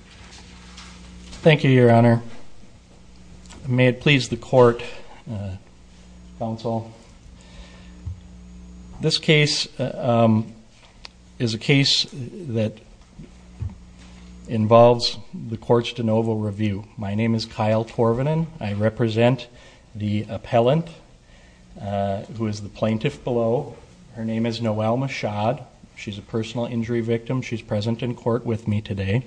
Thank you, Your Honor. May it please the court, counsel. This case is a case that involves the court's de novo review. My name is Kyle Torvanen. I represent the appellant who is the plaintiff below. Her name is Noelle Michaud. She's a personal injury victim. She's present in court with me today.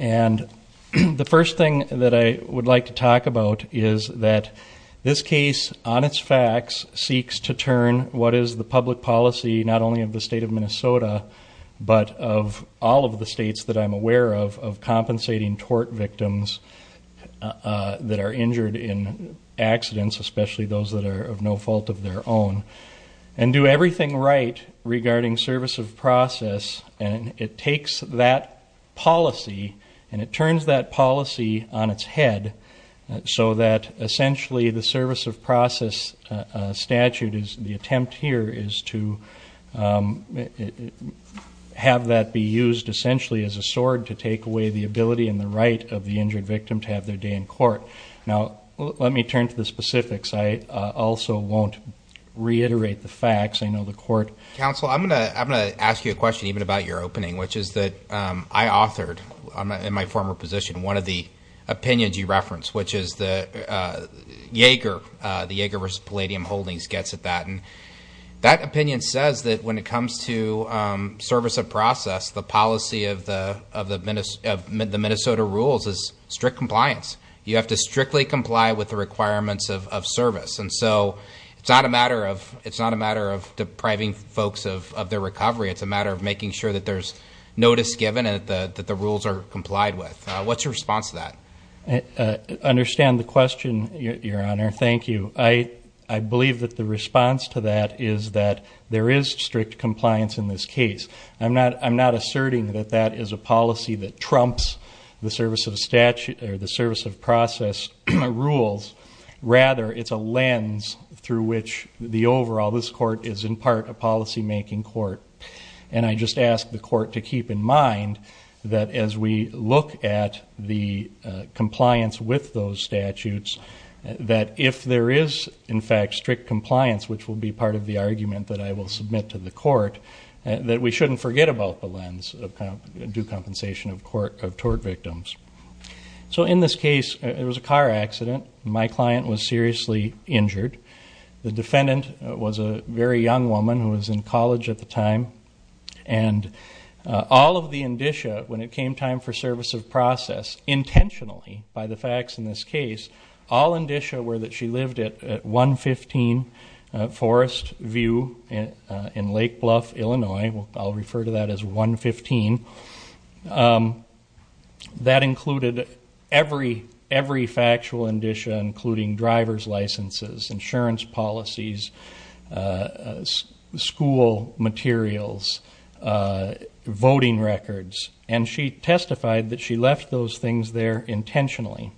And the first thing that I would like to talk about is that this case, on its facts, seeks to turn what is the public policy, not only of the state of Minnesota, but of all of the states that I'm aware of, of compensating tort victims that are injured in accidents, especially those that are of no fault of their own, and do everything right regarding service of process. And it takes that policy and it turns that policy on its head so that essentially the service of process statute is the attempt here is to have that be used essentially as a sword to take away the ability and the right of the injured victim to have their day in court. Now let me turn to the specifics. I also won't reiterate the facts. I know the counsel, I'm going to ask you a question even about your opening, which is that I authored in my former position one of the opinions you referenced, which is the Yeager, the Yeager versus Palladium Holdings gets at that. And that opinion says that when it comes to service of process, the policy of the Minnesota rules is strict compliance. You have to strictly comply with the requirements of service. And so it's not a matter of depriving folks of their recovery. It's a matter of making sure that there's notice given and that the rules are complied with. What's your response to that? I understand the question, your honor. Thank you. I believe that the response to that is that there is strict compliance in this case. I'm not asserting that that is a policy that trumps the service of statute or the service of process rules. Rather, it's a lens through which the overall, this court is in part a policy-making court. And I just ask the court to keep in mind that as we look at the compliance with those statutes, that if there is in fact strict compliance, which will be part of the argument that I will submit to the court, that we shouldn't forget about the lens of due compensation of tort victims. So in this case, it was a car accident. My client was seriously injured. The defendant was a very young woman who was in college at the time. And all of the indicia when it came time for service of process, intentionally by the facts in this case, all indicia were that she lived at 115 Forest View in Lake Bluff, Illinois. I'll refer to that as 115. That included every, every factual indicia, including driver's licenses, insurance policies, school materials, voting records. And she testified that she left those things there intentionally.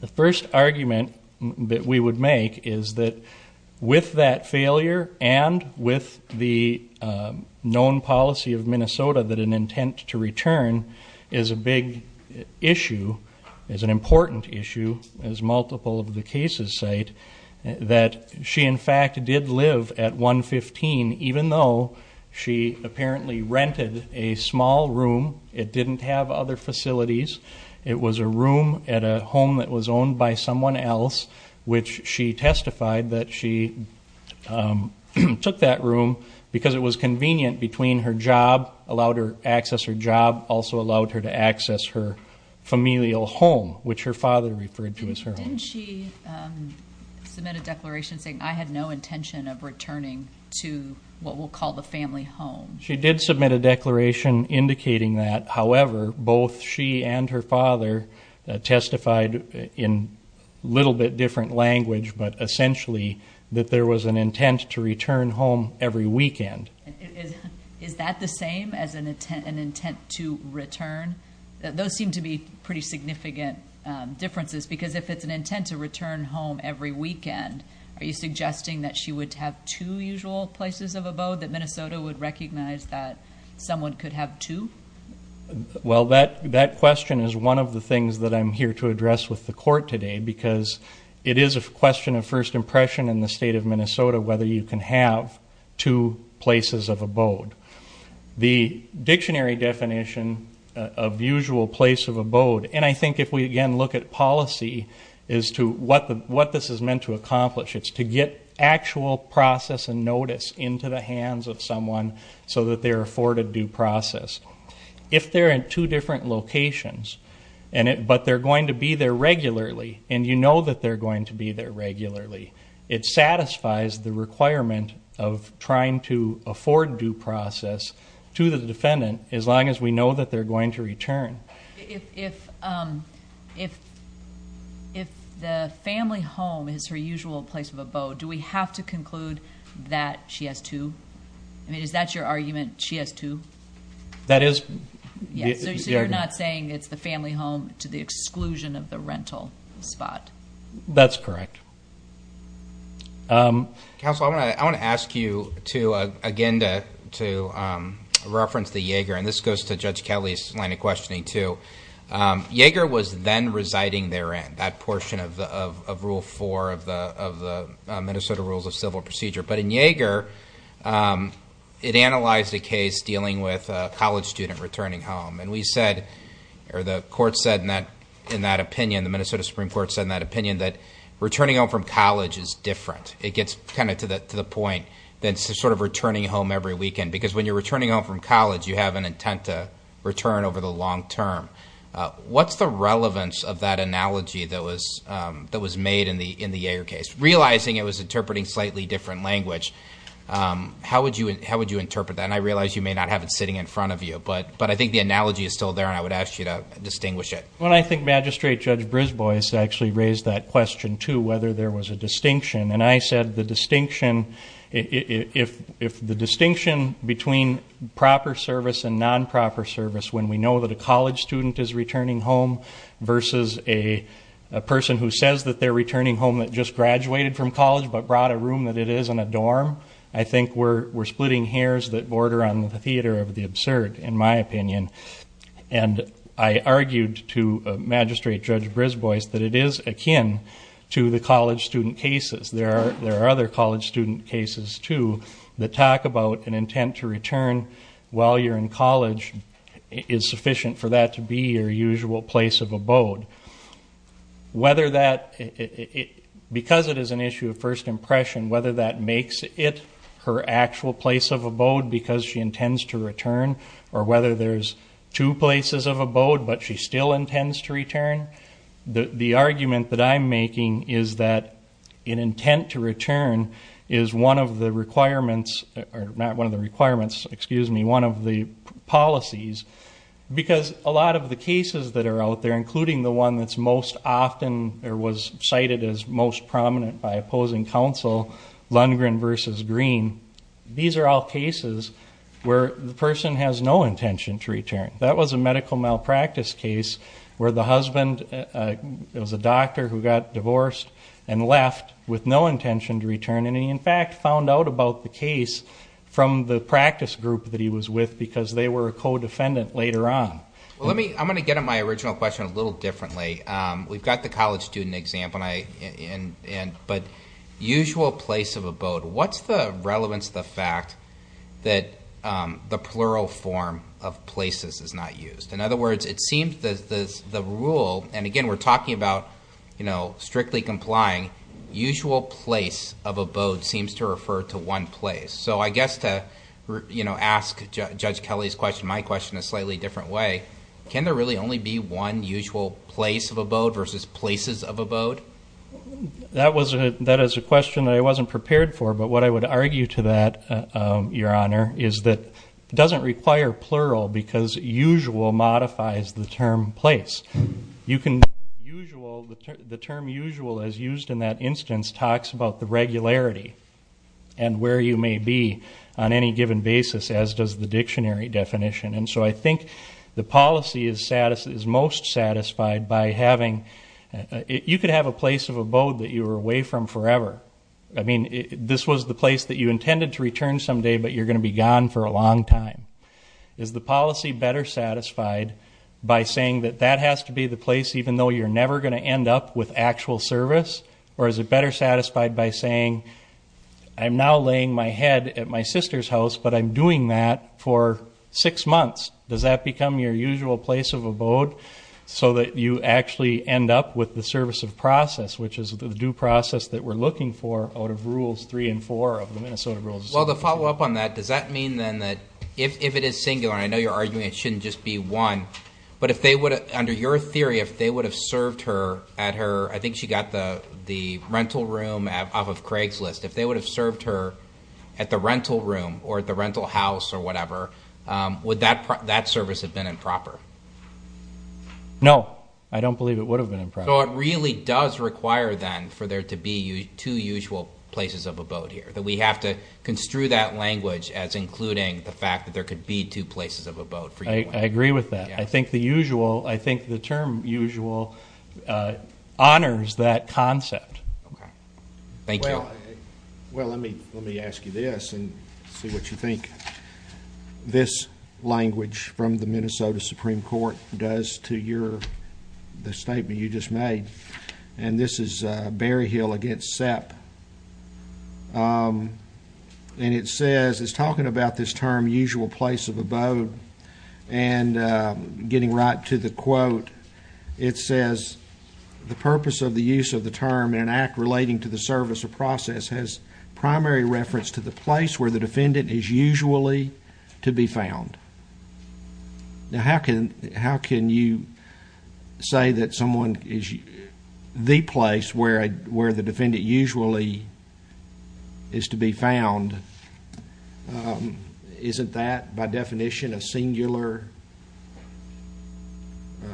The first argument that we would make is that with that failure and with the known policy of Minnesota that an intent to return is a big issue, is an important issue, as multiple of the cases cite, that she in fact did live at 115 even though she apparently rented a small room. It didn't have other facilities. It was a room at a home that was owned by someone else, which she testified that she took that room because it was convenient between her job, allowed her access her familial home, which her father referred to as her home. Didn't she submit a declaration saying I had no intention of returning to what we'll call the family home? She did submit a declaration indicating that. However, both she and her father testified in a little bit different language, but essentially that there was an intent to return home every weekend. Is that the same as an intent to return? Those seem to be pretty significant differences because if it's an intent to return home every weekend, are you suggesting that she would have two usual places of abode, that Minnesota would recognize that someone could have two? Well, that question is one of the things that I'm here to address with the court today because it is a question of first impression in the state of Minnesota whether you can have two places of abode. The dictionary definition of usual place of abode, and I think if we again look at policy as to what this is meant to accomplish, it's to get actual process and notice into the hands of someone so that they're afforded due process. If they're in two different locations, but they're going to be there regularly, and you know that they're going to be there regularly, it satisfies the requirement of trying to afford due process to the defendant as long as we know that they're going to return. If the family home is her usual place of abode, do we have to conclude that she has two? I mean, is that your argument, she has two? That is. So you're not saying it's the family home to the exclusion of the rental spot? That's correct. Counsel, I want to ask you again to reference the Yeager, and this goes to Judge Kelly's line of questioning too. Yeager was then residing therein, that portion of Rule 4 of the Minnesota Rules of Civil Procedure, but in Yeager, it analyzed a case dealing with a college student returning home, and we said, or the court said in that opinion, the Minnesota Supreme Court said in that opinion that returning home from college is different. It gets kind of to the point that it's sort of returning home every weekend, because when you're returning home from college, you have an intent to return over the long term. What's the relevance of that analogy that was made in the Yeager case? Realizing it was interpreting slightly different language. How would you interpret that? And I realize you may not have it sitting in front of you, but I think the analogy is still there, and I would ask you to distinguish it. Well, I think Magistrate Judge Brisbois actually raised that question too, whether there was a distinction, and I said the distinction, if the distinction between proper service and non-proper service, when we know that a college student is returning home versus a person who says that they're returning home that just doesn't make sense. I think we're splitting hairs that border on the theater of the absurd, in my opinion, and I argued to Magistrate Judge Brisbois that it is akin to the college student cases. There are other college student cases, too, that talk about an intent to return while you're in college is sufficient for that to be your usual place of abode. Whether that, because it is an issue of first impression, whether that makes it her actual place of abode because she intends to return, or whether there's two places of abode but she still intends to return, the argument that I'm making is that an intent to return is one of the requirements, or not one of the requirements, excuse me, one of the policies, because a lot of the cases that are out there, including the one that's most often, or was cited as most prominent by opposing counsel, Lundgren versus Green, these are all cases where the person has no intention to return. That was a medical malpractice case where the husband, it was a doctor who got divorced and left with no intention to return, and he in fact found out about the case from the practice group that he was with because they were a co-defendant later on. Well, let me, I'm going to get on my original question a little differently. We've got the college student example, but usual place of abode, what's the relevance of the fact that the plural form of places is not used? In other words, it seems that the rule, and again, we're talking about strictly complying, usual place of abode seems to refer to one place. I guess to ask Judge Kelly's question, my question in a slightly different way, can there really only be one usual place of abode versus places of abode? That was a, that is a question that I wasn't prepared for, but what I would argue to that, your honor, is that it doesn't require plural because usual modifies the term place. You can, usual, the term usual as used in that instance talks about the regularity and where you may be on any given basis, as does the dictionary definition, and so I think the policy is most satisfied by having, you could have a place of abode that you were away from forever. I mean, this was the place that you intended to return someday, but you're going to be gone for a long time. Is the policy better satisfied by saying that that has to be the place, even though you're never going to end up with actual service, or is it better satisfied by saying, I'm now laying my head at my sister's house, but I'm doing that for six months. Does that become your usual place of abode so that you actually end up with the service of process, which is the due process that we're looking for out of rules three and four of the Minnesota Rules of Service? Well, to follow up on that, does that mean then that if it is singular, I know you're arguing it shouldn't just be one, but if they would, under your theory, if they would have served her at her, I think she got the rental room off of Craig's list, if they would have served her at the rental room or at the rental house or whatever, would that service have been improper? No, I don't believe it would have been improper. So it really does require then for there to be two usual places of abode here, that we have to construe that language as including the fact that there could be two places of abode. I agree with that. I think the usual, I think the term usual honors that concept. Thank you. Well, let me let me ask you this and see what you from the Minnesota Supreme Court does to your, the statement you just made, and this is Berryhill against Sepp, and it says, it's talking about this term usual place of abode, and getting right to the quote, it says, the purpose of the use of the term in an act relating to the service of process has primary reference to the place where the defendant is usually to be found. Now how can, how can you say that someone is the place where, where the defendant usually is to be found? Isn't that by definition a singular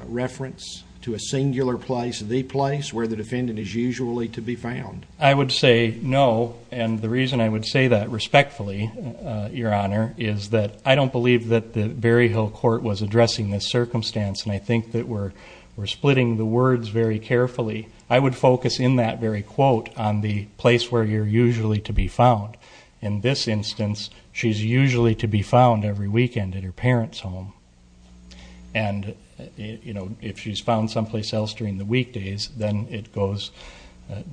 reference to a singular place, the place where the defendant is usually to be found? I would say no, and the reason I would say that respectfully, your honor, is that I don't believe that the Berryhill court was addressing this circumstance, and I think that we're we're splitting the words very carefully. I would focus in that very quote on the place where you're usually to be found. In this instance, she's usually to be found every weekend at her parents home, and you know, if she's found someplace else during the weekdays, then it goes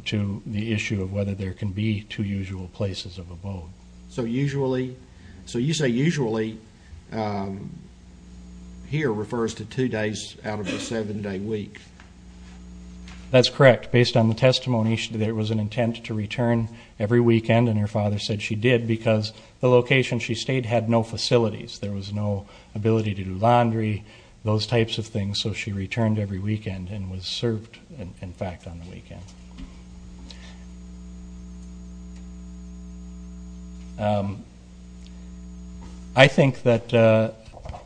to the issue of whether there can be two places of abode. So usually, so you say usually, here refers to two days out of the seven day week. That's correct. Based on the testimony, there was an intent to return every weekend, and her father said she did because the location she stayed had no facilities. There was no ability to do laundry, those types of things, so she returned every weekend and was served, in fact, on the weekend. I think that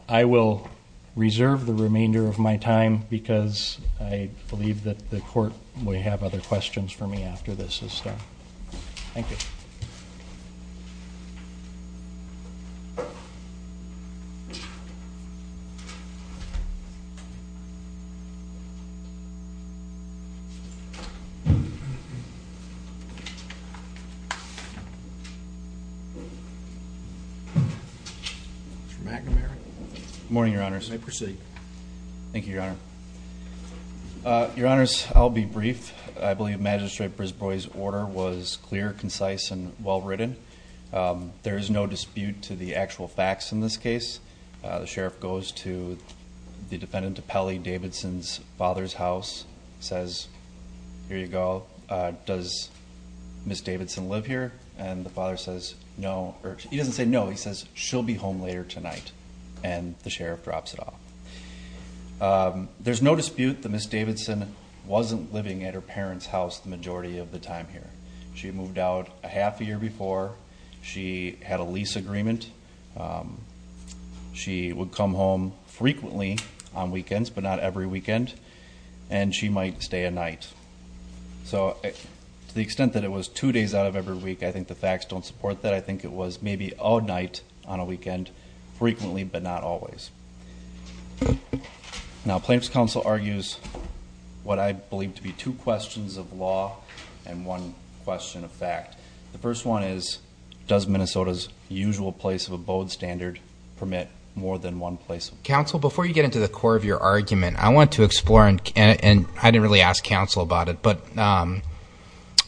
I will reserve the remainder of my time because I believe that the court may have other questions for me after this is done. Thank you. Morning, Your Honors. May I proceed? Thank you, Your Honor. Your Honors, I'll be brief. I believe Magistrate Brisbois' order was clear, concise, and well-written. There is no dispute to the actual facts in this case. The sheriff goes to the defendant of Pelley Davidson's father's house, says, here you go. Does Miss Davidson live here? And the father says no, or he doesn't say no, he says she'll be home later tonight, and the sheriff drops it off. There's no dispute that Miss Davidson wasn't living at her parents house the majority of the time here. She moved out a half a year before. She had a lease agreement. She would come home frequently on weekends, but not every weekend, and she might stay a night. So to the extent that it was two days out of every week, I think the facts don't support that. I think it was maybe all night on a weekend, frequently, but not always. Now plaintiff's counsel argues what I believe to be two questions of law and one question of fact. The first one is, does Minnesota's usual place of abode standard permit more than one place? Counsel, before you get into the core of your argument, I want to explore, and I didn't really ask counsel about it, but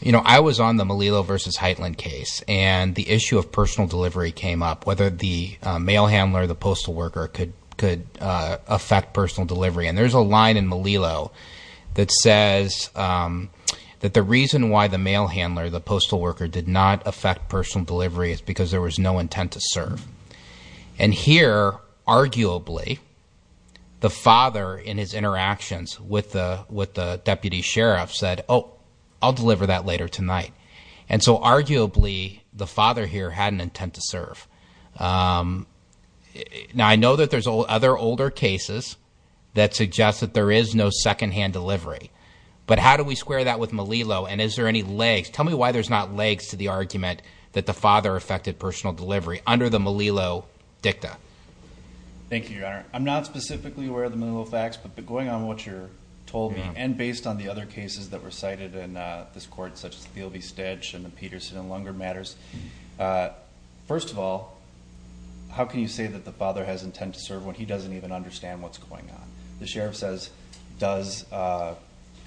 you know, I was on the Melillo versus Heitland case, and the issue of personal delivery came up, whether the mail handler, the postal worker, could affect personal delivery. And there's a line in Melillo that says that the reason why the mail handler, the postal worker, did not affect personal delivery is because there was no intent to serve. And here, arguably, the father, in his I'll deliver that later tonight. And so arguably, the father here had an intent to serve. Now, I know that there's other older cases that suggest that there is no secondhand delivery. But how do we square that with Melillo? And is there any legs? Tell me why there's not legs to the argument that the father affected personal delivery under the Melillo dicta. Thank you, Your Honor. I'm not specifically aware of the Melillo facts, but going on what you're told me, and based on the other cases that were cited in this court, such as Thiel v. Stedge and the Peterson and Lunger matters, first of all, how can you say that the father has intent to serve when he doesn't even understand what's going on? The sheriff says, does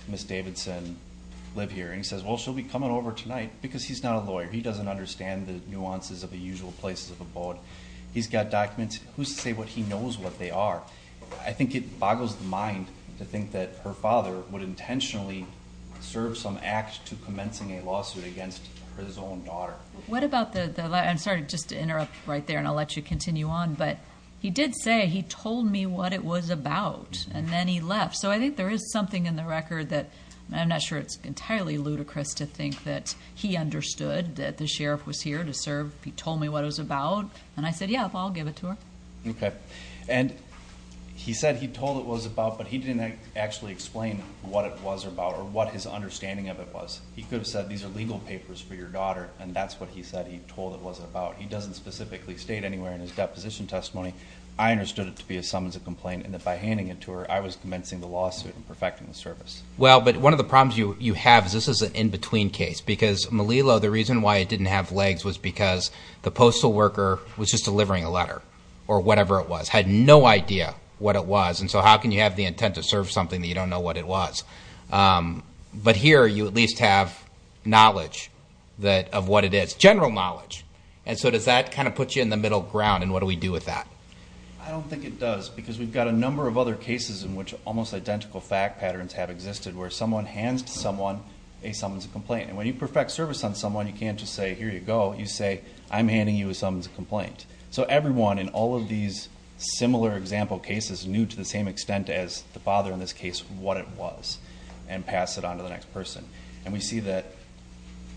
Miss Davidson live here? And he says, well, she'll be coming over tonight because he's not a lawyer. He doesn't understand the nuances of the usual places of abode. He's got documents. Who's to say what he knows what they are? I think it boggles the mind to think that her father would intentionally serve some act to commencing a lawsuit against his own daughter. What about the... I'm sorry, just to interrupt right there and I'll let you continue on, but he did say he told me what it was about and then he left. So I think there is something in the record that I'm not sure it's entirely ludicrous to think that he understood that the sheriff was here to serve. He told me what it was about and I said, yeah, I'll give it to her. Okay. And he said he told it was about, but he didn't actually explain what it was about or what his understanding of it was. He could have said these are legal papers for your daughter and that's what he said he told it was about. He doesn't specifically state anywhere in his deposition testimony. I understood it to be as some as a complaint and that by handing it to her, I was commencing the lawsuit and perfecting the service. Well, but one of the problems you have is this is an in between case because Malilo, the reason why it didn't have legs was because the sheriff was delivering a letter or whatever it was, had no idea what it was. And so how can you have the intent to serve something that you don't know what it was? But here you at least have knowledge of what it is, general knowledge. And so does that kind of put you in the middle ground and what do we do with that? I don't think it does because we've got a number of other cases in which almost identical fact patterns have existed where someone hands to someone a some as a complaint. And when you perfect service on someone, you can't just say, here you go. You say, I'm handing you some as a complaint. So everyone in all of these similar example cases knew to the same extent as the father in this case what it was and pass it on to the next person. And we see that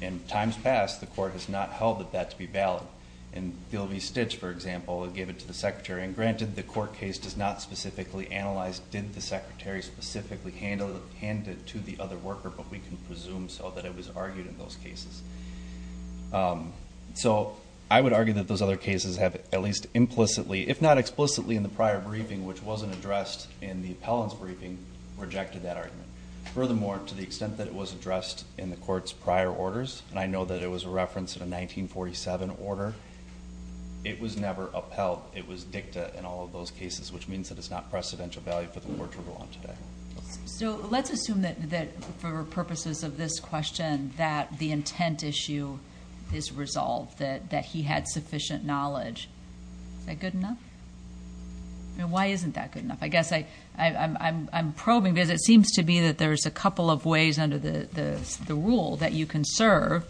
in times past, the court has not held that that to be valid. In the OV Stitch, for example, it gave it to the secretary and granted the court case does not specifically analyze, did the secretary specifically hand it to the other worker, but we can presume so that it was argued that those other cases have at least implicitly, if not explicitly in the prior briefing, which wasn't addressed in the appellant's briefing, rejected that argument. Furthermore, to the extent that it was addressed in the court's prior orders, and I know that it was referenced in a 1947 order, it was never upheld. It was dicta in all of those cases, which means that it's not precedential value for the court to rule on today. So let's assume that for purposes of this question, that the sufficient knowledge. Is that good enough? I mean, why isn't that good enough? I guess I'm probing because it seems to be that there's a couple of ways under the rule that you can serve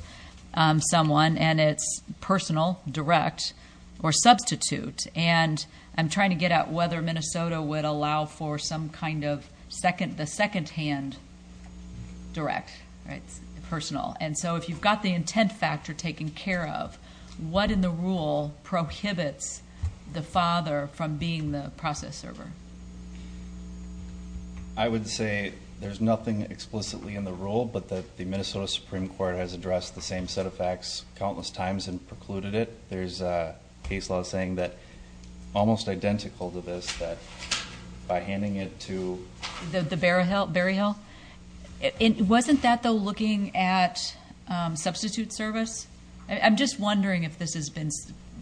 someone, and it's personal, direct, or substitute. And I'm trying to get at whether Minnesota would allow for some kind of the secondhand direct, right, personal. And so if you've got the intent factor taken care of, what in the rule prohibits the father from being the process server? I would say there's nothing explicitly in the rule, but that the Minnesota Supreme Court has addressed the same set of facts countless times and precluded it. There's a case law saying that almost identical to this, that by handing it to... The Berryhill? Berryhill. Wasn't that, though, looking at substitute service? I'm just wondering if this has been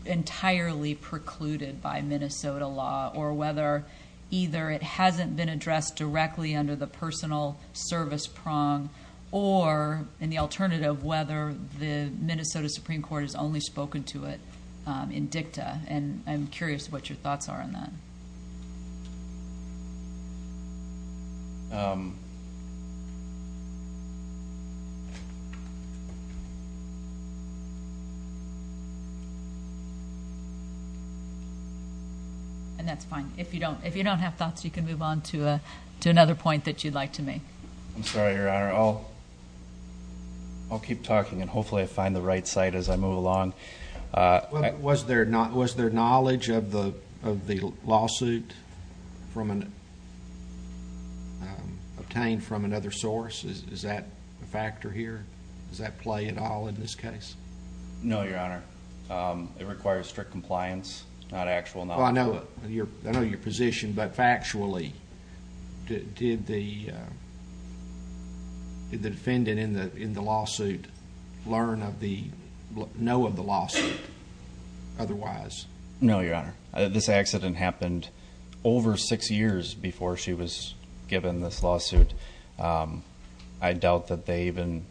entirely precluded by Minnesota law, or whether either it hasn't been addressed directly under the personal service prong, or in the alternative, whether the Minnesota Supreme Court has only spoken to it in dicta. And I'm curious what your thoughts are on that. And that's fine. If you don't have thoughts, you can move on to another point that you'd like to make. I'm sorry, Your Honor. I'll keep talking, and hopefully I find the right site as I move along. Was there knowledge of the lawsuit obtained from another source? Is that a factor here? Does that play at all in this case? No, Your Honor. It requires strict compliance, not actual knowledge. I know your position, but factually, did the defendant in the lawsuit know of the lawsuit otherwise? No, Your Honor. This accident happened over six years before she was given this lawsuit. I doubt that they even...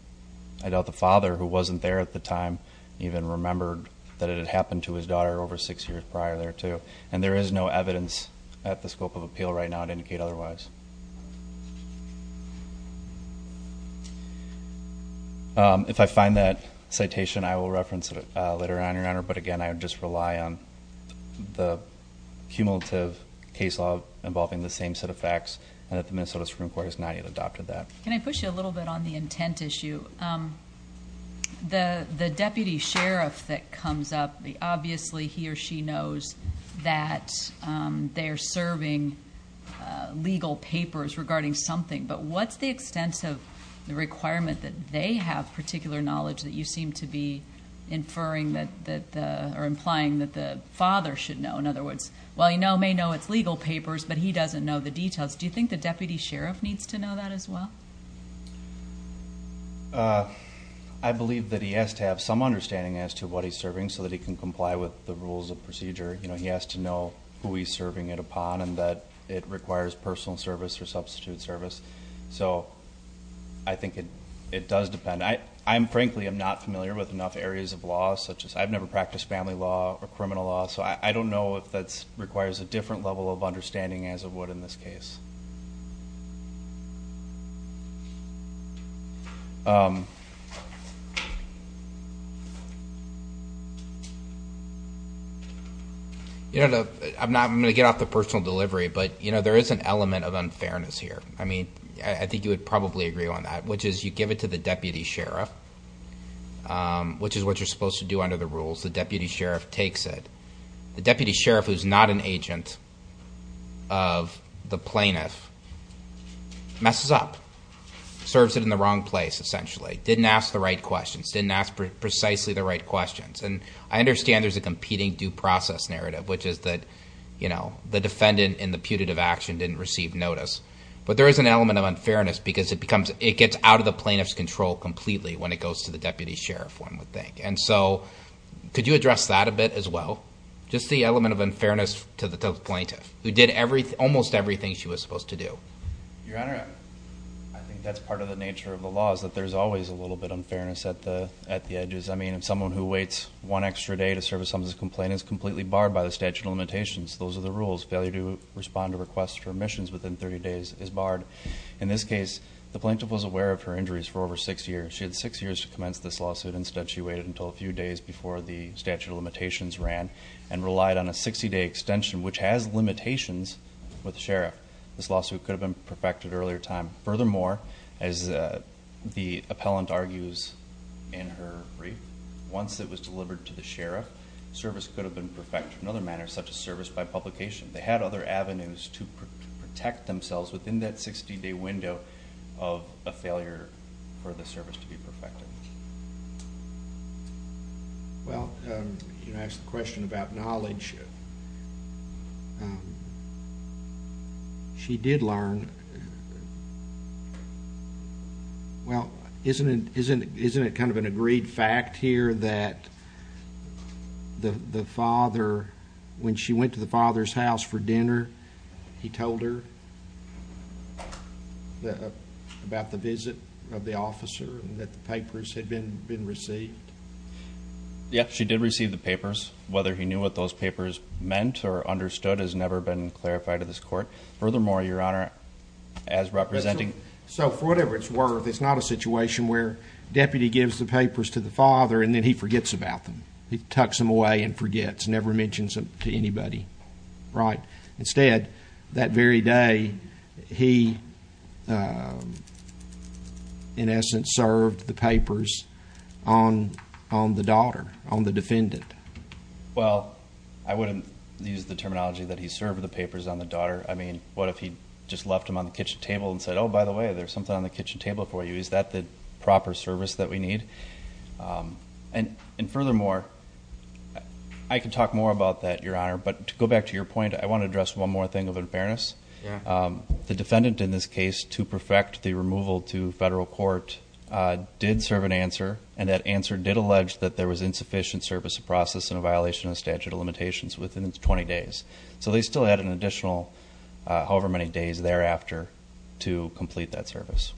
I doubt the father, who wasn't there at the time, even remembered that it had happened to his daughter over six years prior there, too. And there is no evidence at the scope of appeal right now to indicate otherwise. If I find that citation, I will reference it later on, Your Honor. But again, I would just rely on the cumulative case law involving the same set of facts, and that the Minnesota Supreme Court has not yet adopted that. Can I push you a little bit on the intent issue? The deputy sheriff that something, but what's the extent of the requirement that they have particular knowledge that you seem to be inferring that... or implying that the father should know? In other words, while he may know it's legal papers, but he doesn't know the details. Do you think the deputy sheriff needs to know that as well? I believe that he has to have some understanding as to what he's serving so that he can comply with the rules of procedure. He has to know who he's service or substitute service. So I think it it does depend. I'm frankly I'm not familiar with enough areas of law, such as I've never practiced family law or criminal law, so I don't know if that's requires a different level of understanding as of what in this case. You know, I'm not going to get off the personal delivery, but you know there is an element of unfairness here. I mean, I think you would probably agree on that, which is you give it to the deputy sheriff, which is what you're supposed to do under the rules. The deputy sheriff takes it. The deputy sheriff, who's not an agent of the plaintiff, messes up. Serves it in the wrong place essentially. Didn't ask the right questions. Didn't ask precisely the right questions. And I understand there's a competing due process narrative, which is that you know the defendant in the putative action didn't receive notice. But there is an element of unfairness because it becomes it gets out of the plaintiff's control completely when it goes to the deputy sheriff, one would think. And so could you address that a bit as well? Just the element of unfairness to the plaintiff, who did everything, almost everything she was supposed to do. I think that's part of the nature of the law, is that there's always a little bit unfairness at the at the edges. I mean, if someone who waits one extra day to serve a substance complaint is completely barred by the statute of limitations, those are the rules. Failure to respond to requests for omissions within 30 days is barred. In this case, the plaintiff was aware of her injuries for over six years. She had six years to commence this lawsuit. Instead, she waited until a few days before the statute of limitations ran and relied on a 60-day extension, which has limitations with the sheriff. This lawsuit could have been perfected earlier time. Furthermore, as the appellant argues in her brief, once it was delivered to the sheriff, service could have been perfected in other manners, such as service by publication. They had other avenues to protect themselves within that 60-day window of a failure for the service to be perfected. Well, you asked the question about knowledge. She did learn. Well, isn't it kind of an agreed fact here that the father, when she went to the father's house for dinner, he told her about the visit of the officer and that the papers had been received? Yes, she did receive the papers. Whether he knew what those papers meant or not, as representing... So, for whatever it's worth, it's not a situation where deputy gives the papers to the father and then he forgets about them. He tucks them away and forgets, never mentions them to anybody, right? Instead, that very day, he in essence served the papers on the daughter, on the defendant. Well, I wouldn't use the terminology that he served the papers on the table and said, oh, by the way, there's something on the kitchen table for you. Is that the proper service that we need? And furthermore, I could talk more about that, Your Honor, but to go back to your point, I want to address one more thing of unfairness. The defendant in this case, to perfect the removal to federal court, did serve an answer and that answer did allege that there was insufficient service of process and violation of statute of limitations within its 20 days. So, they still had an additional 20 days thereafter to complete that service.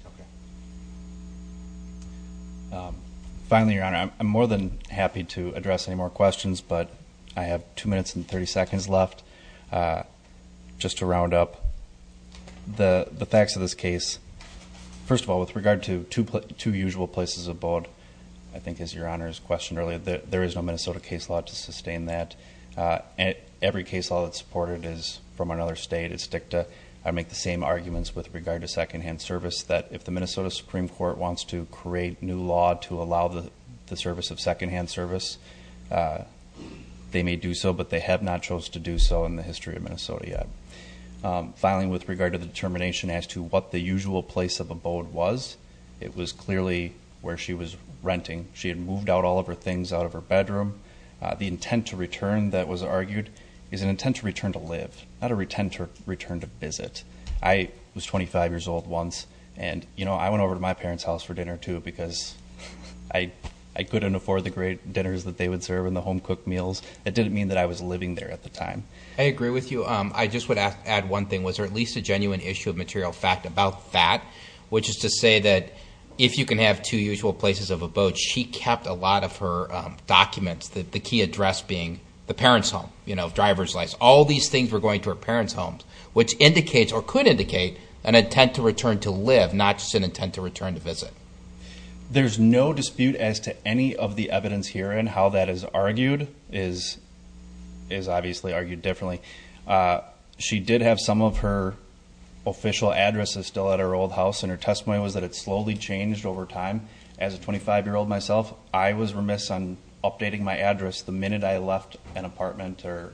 Finally, Your Honor, I'm more than happy to address any more questions, but I have two minutes and 30 seconds left just to round up the facts of this case. First of all, with regard to two usual places of board, I think as Your Honor has questioned earlier, there is no Minnesota case law to sustain that. Every case law that's supported is from another state. I make the same arguments with regard to secondhand service that if the Minnesota Supreme Court wants to create new law to allow the service of secondhand service, they may do so, but they have not chose to do so in the history of Minnesota yet. Finally, with regard to the determination as to what the usual place of abode was, it was clearly where she was renting. She had moved out all of her things out of her bedroom. The intent to return that was argued is an intent to return to live, not a return to visit. I was 25 years old once, and I went over to my parents' house for dinner too because I couldn't afford the great dinners that they would serve and the home-cooked meals. That didn't mean that I was living there at the time. I agree with you. I just would add one thing. Was there at least a genuine issue of material fact about that, which is to say that if you can have two usual places of abode, she kept a lot of her documents, the key address being the parents' home, you know, driver's license. All these things were going to her parents' homes, which indicates or could indicate an intent to return to live, not just an intent to return to visit. There's no dispute as to any of the evidence here and how that is argued is obviously argued differently. She did have some of her official addresses still at her old house, and her testimony was that it slowly changed over time. As a 25-year-old myself, I was remiss on updating my address the minute I left an apartment or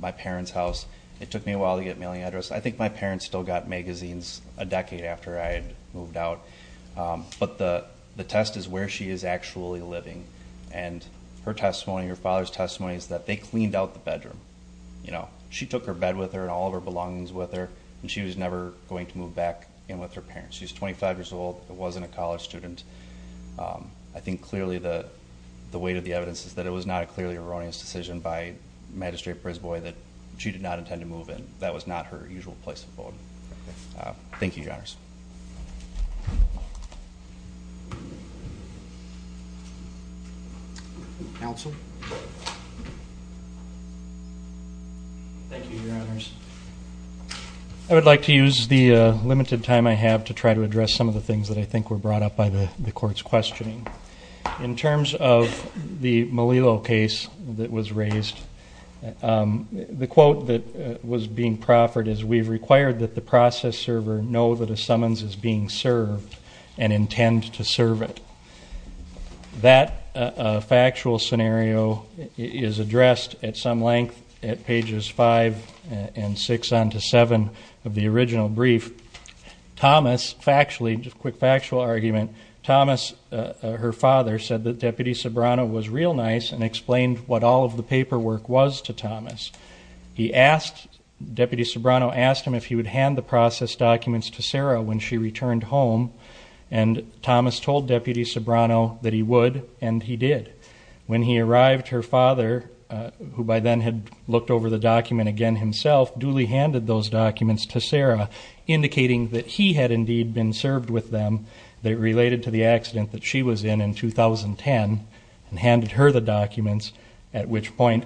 my parents' house. It took me a while to get a mailing address. I think my parents still got magazines a decade after I had moved out, but the test is where she is actually living, and her testimony, her father's testimony, is that they cleaned out the bedroom, you know. She took her back in with her parents. She's 25 years old, wasn't a college student. I think clearly the weight of the evidence is that it was not a clearly erroneous decision by Magistrate Prisboi that she did not intend to move in. That was not her usual place of abode. Thank you, Your Honors. Counsel? I would like to use the limited time I have to try to address some of the things that I think were brought up by the court's questioning. In terms of the Melillo case that was raised, the quote that was being proffered is, we've required that the process server know that a summons is being served and tend to serve it. That factual scenario is addressed at some length at pages 5 and 6 on to 7 of the original brief. Thomas factually, just quick factual argument, Thomas, her father, said that Deputy Sobrano was real nice and explained what all of the paperwork was to Thomas. He asked, Deputy Sobrano asked him if he would hand the process documents to Sarah when she returned home and Thomas told Deputy Sobrano that he would and he did. When he arrived, her father, who by then had looked over the document again himself, duly handed those documents to Sarah, indicating that he had indeed been served with them. They related to the accident that she was in in 2010 and handed her the documents, at which point,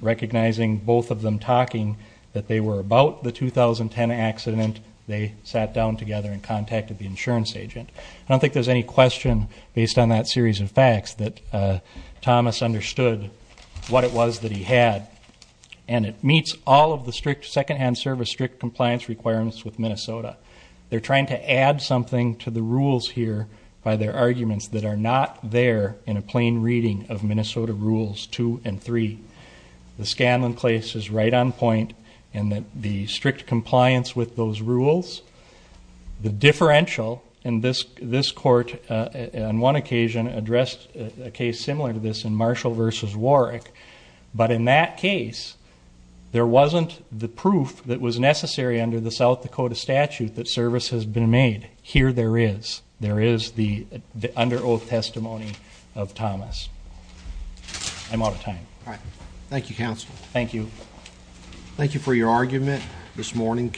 recognizing both of them talking that they were about the 2010 accident, they sat down together and contacted the insurance agent. I don't think there's any question, based on that series of facts, that Thomas understood what it was that he had and it meets all of the strict secondhand service strict compliance requirements with Minnesota. They're trying to add something to the rules here by their arguments that are not there in a plain reading of Minnesota rules two and three. The Scanlon case is right on point in the strict compliance with those rules. The differential in this this court, on one occasion, addressed a case similar to this in Marshall versus Warwick, but in that case there wasn't the proof that was necessary under the South Dakota statute that service has been made. Here there is. There is the under oath testimony of Thomas. I'm out of time. Thank you, counsel. Thank you. Thank you for your argument this morning.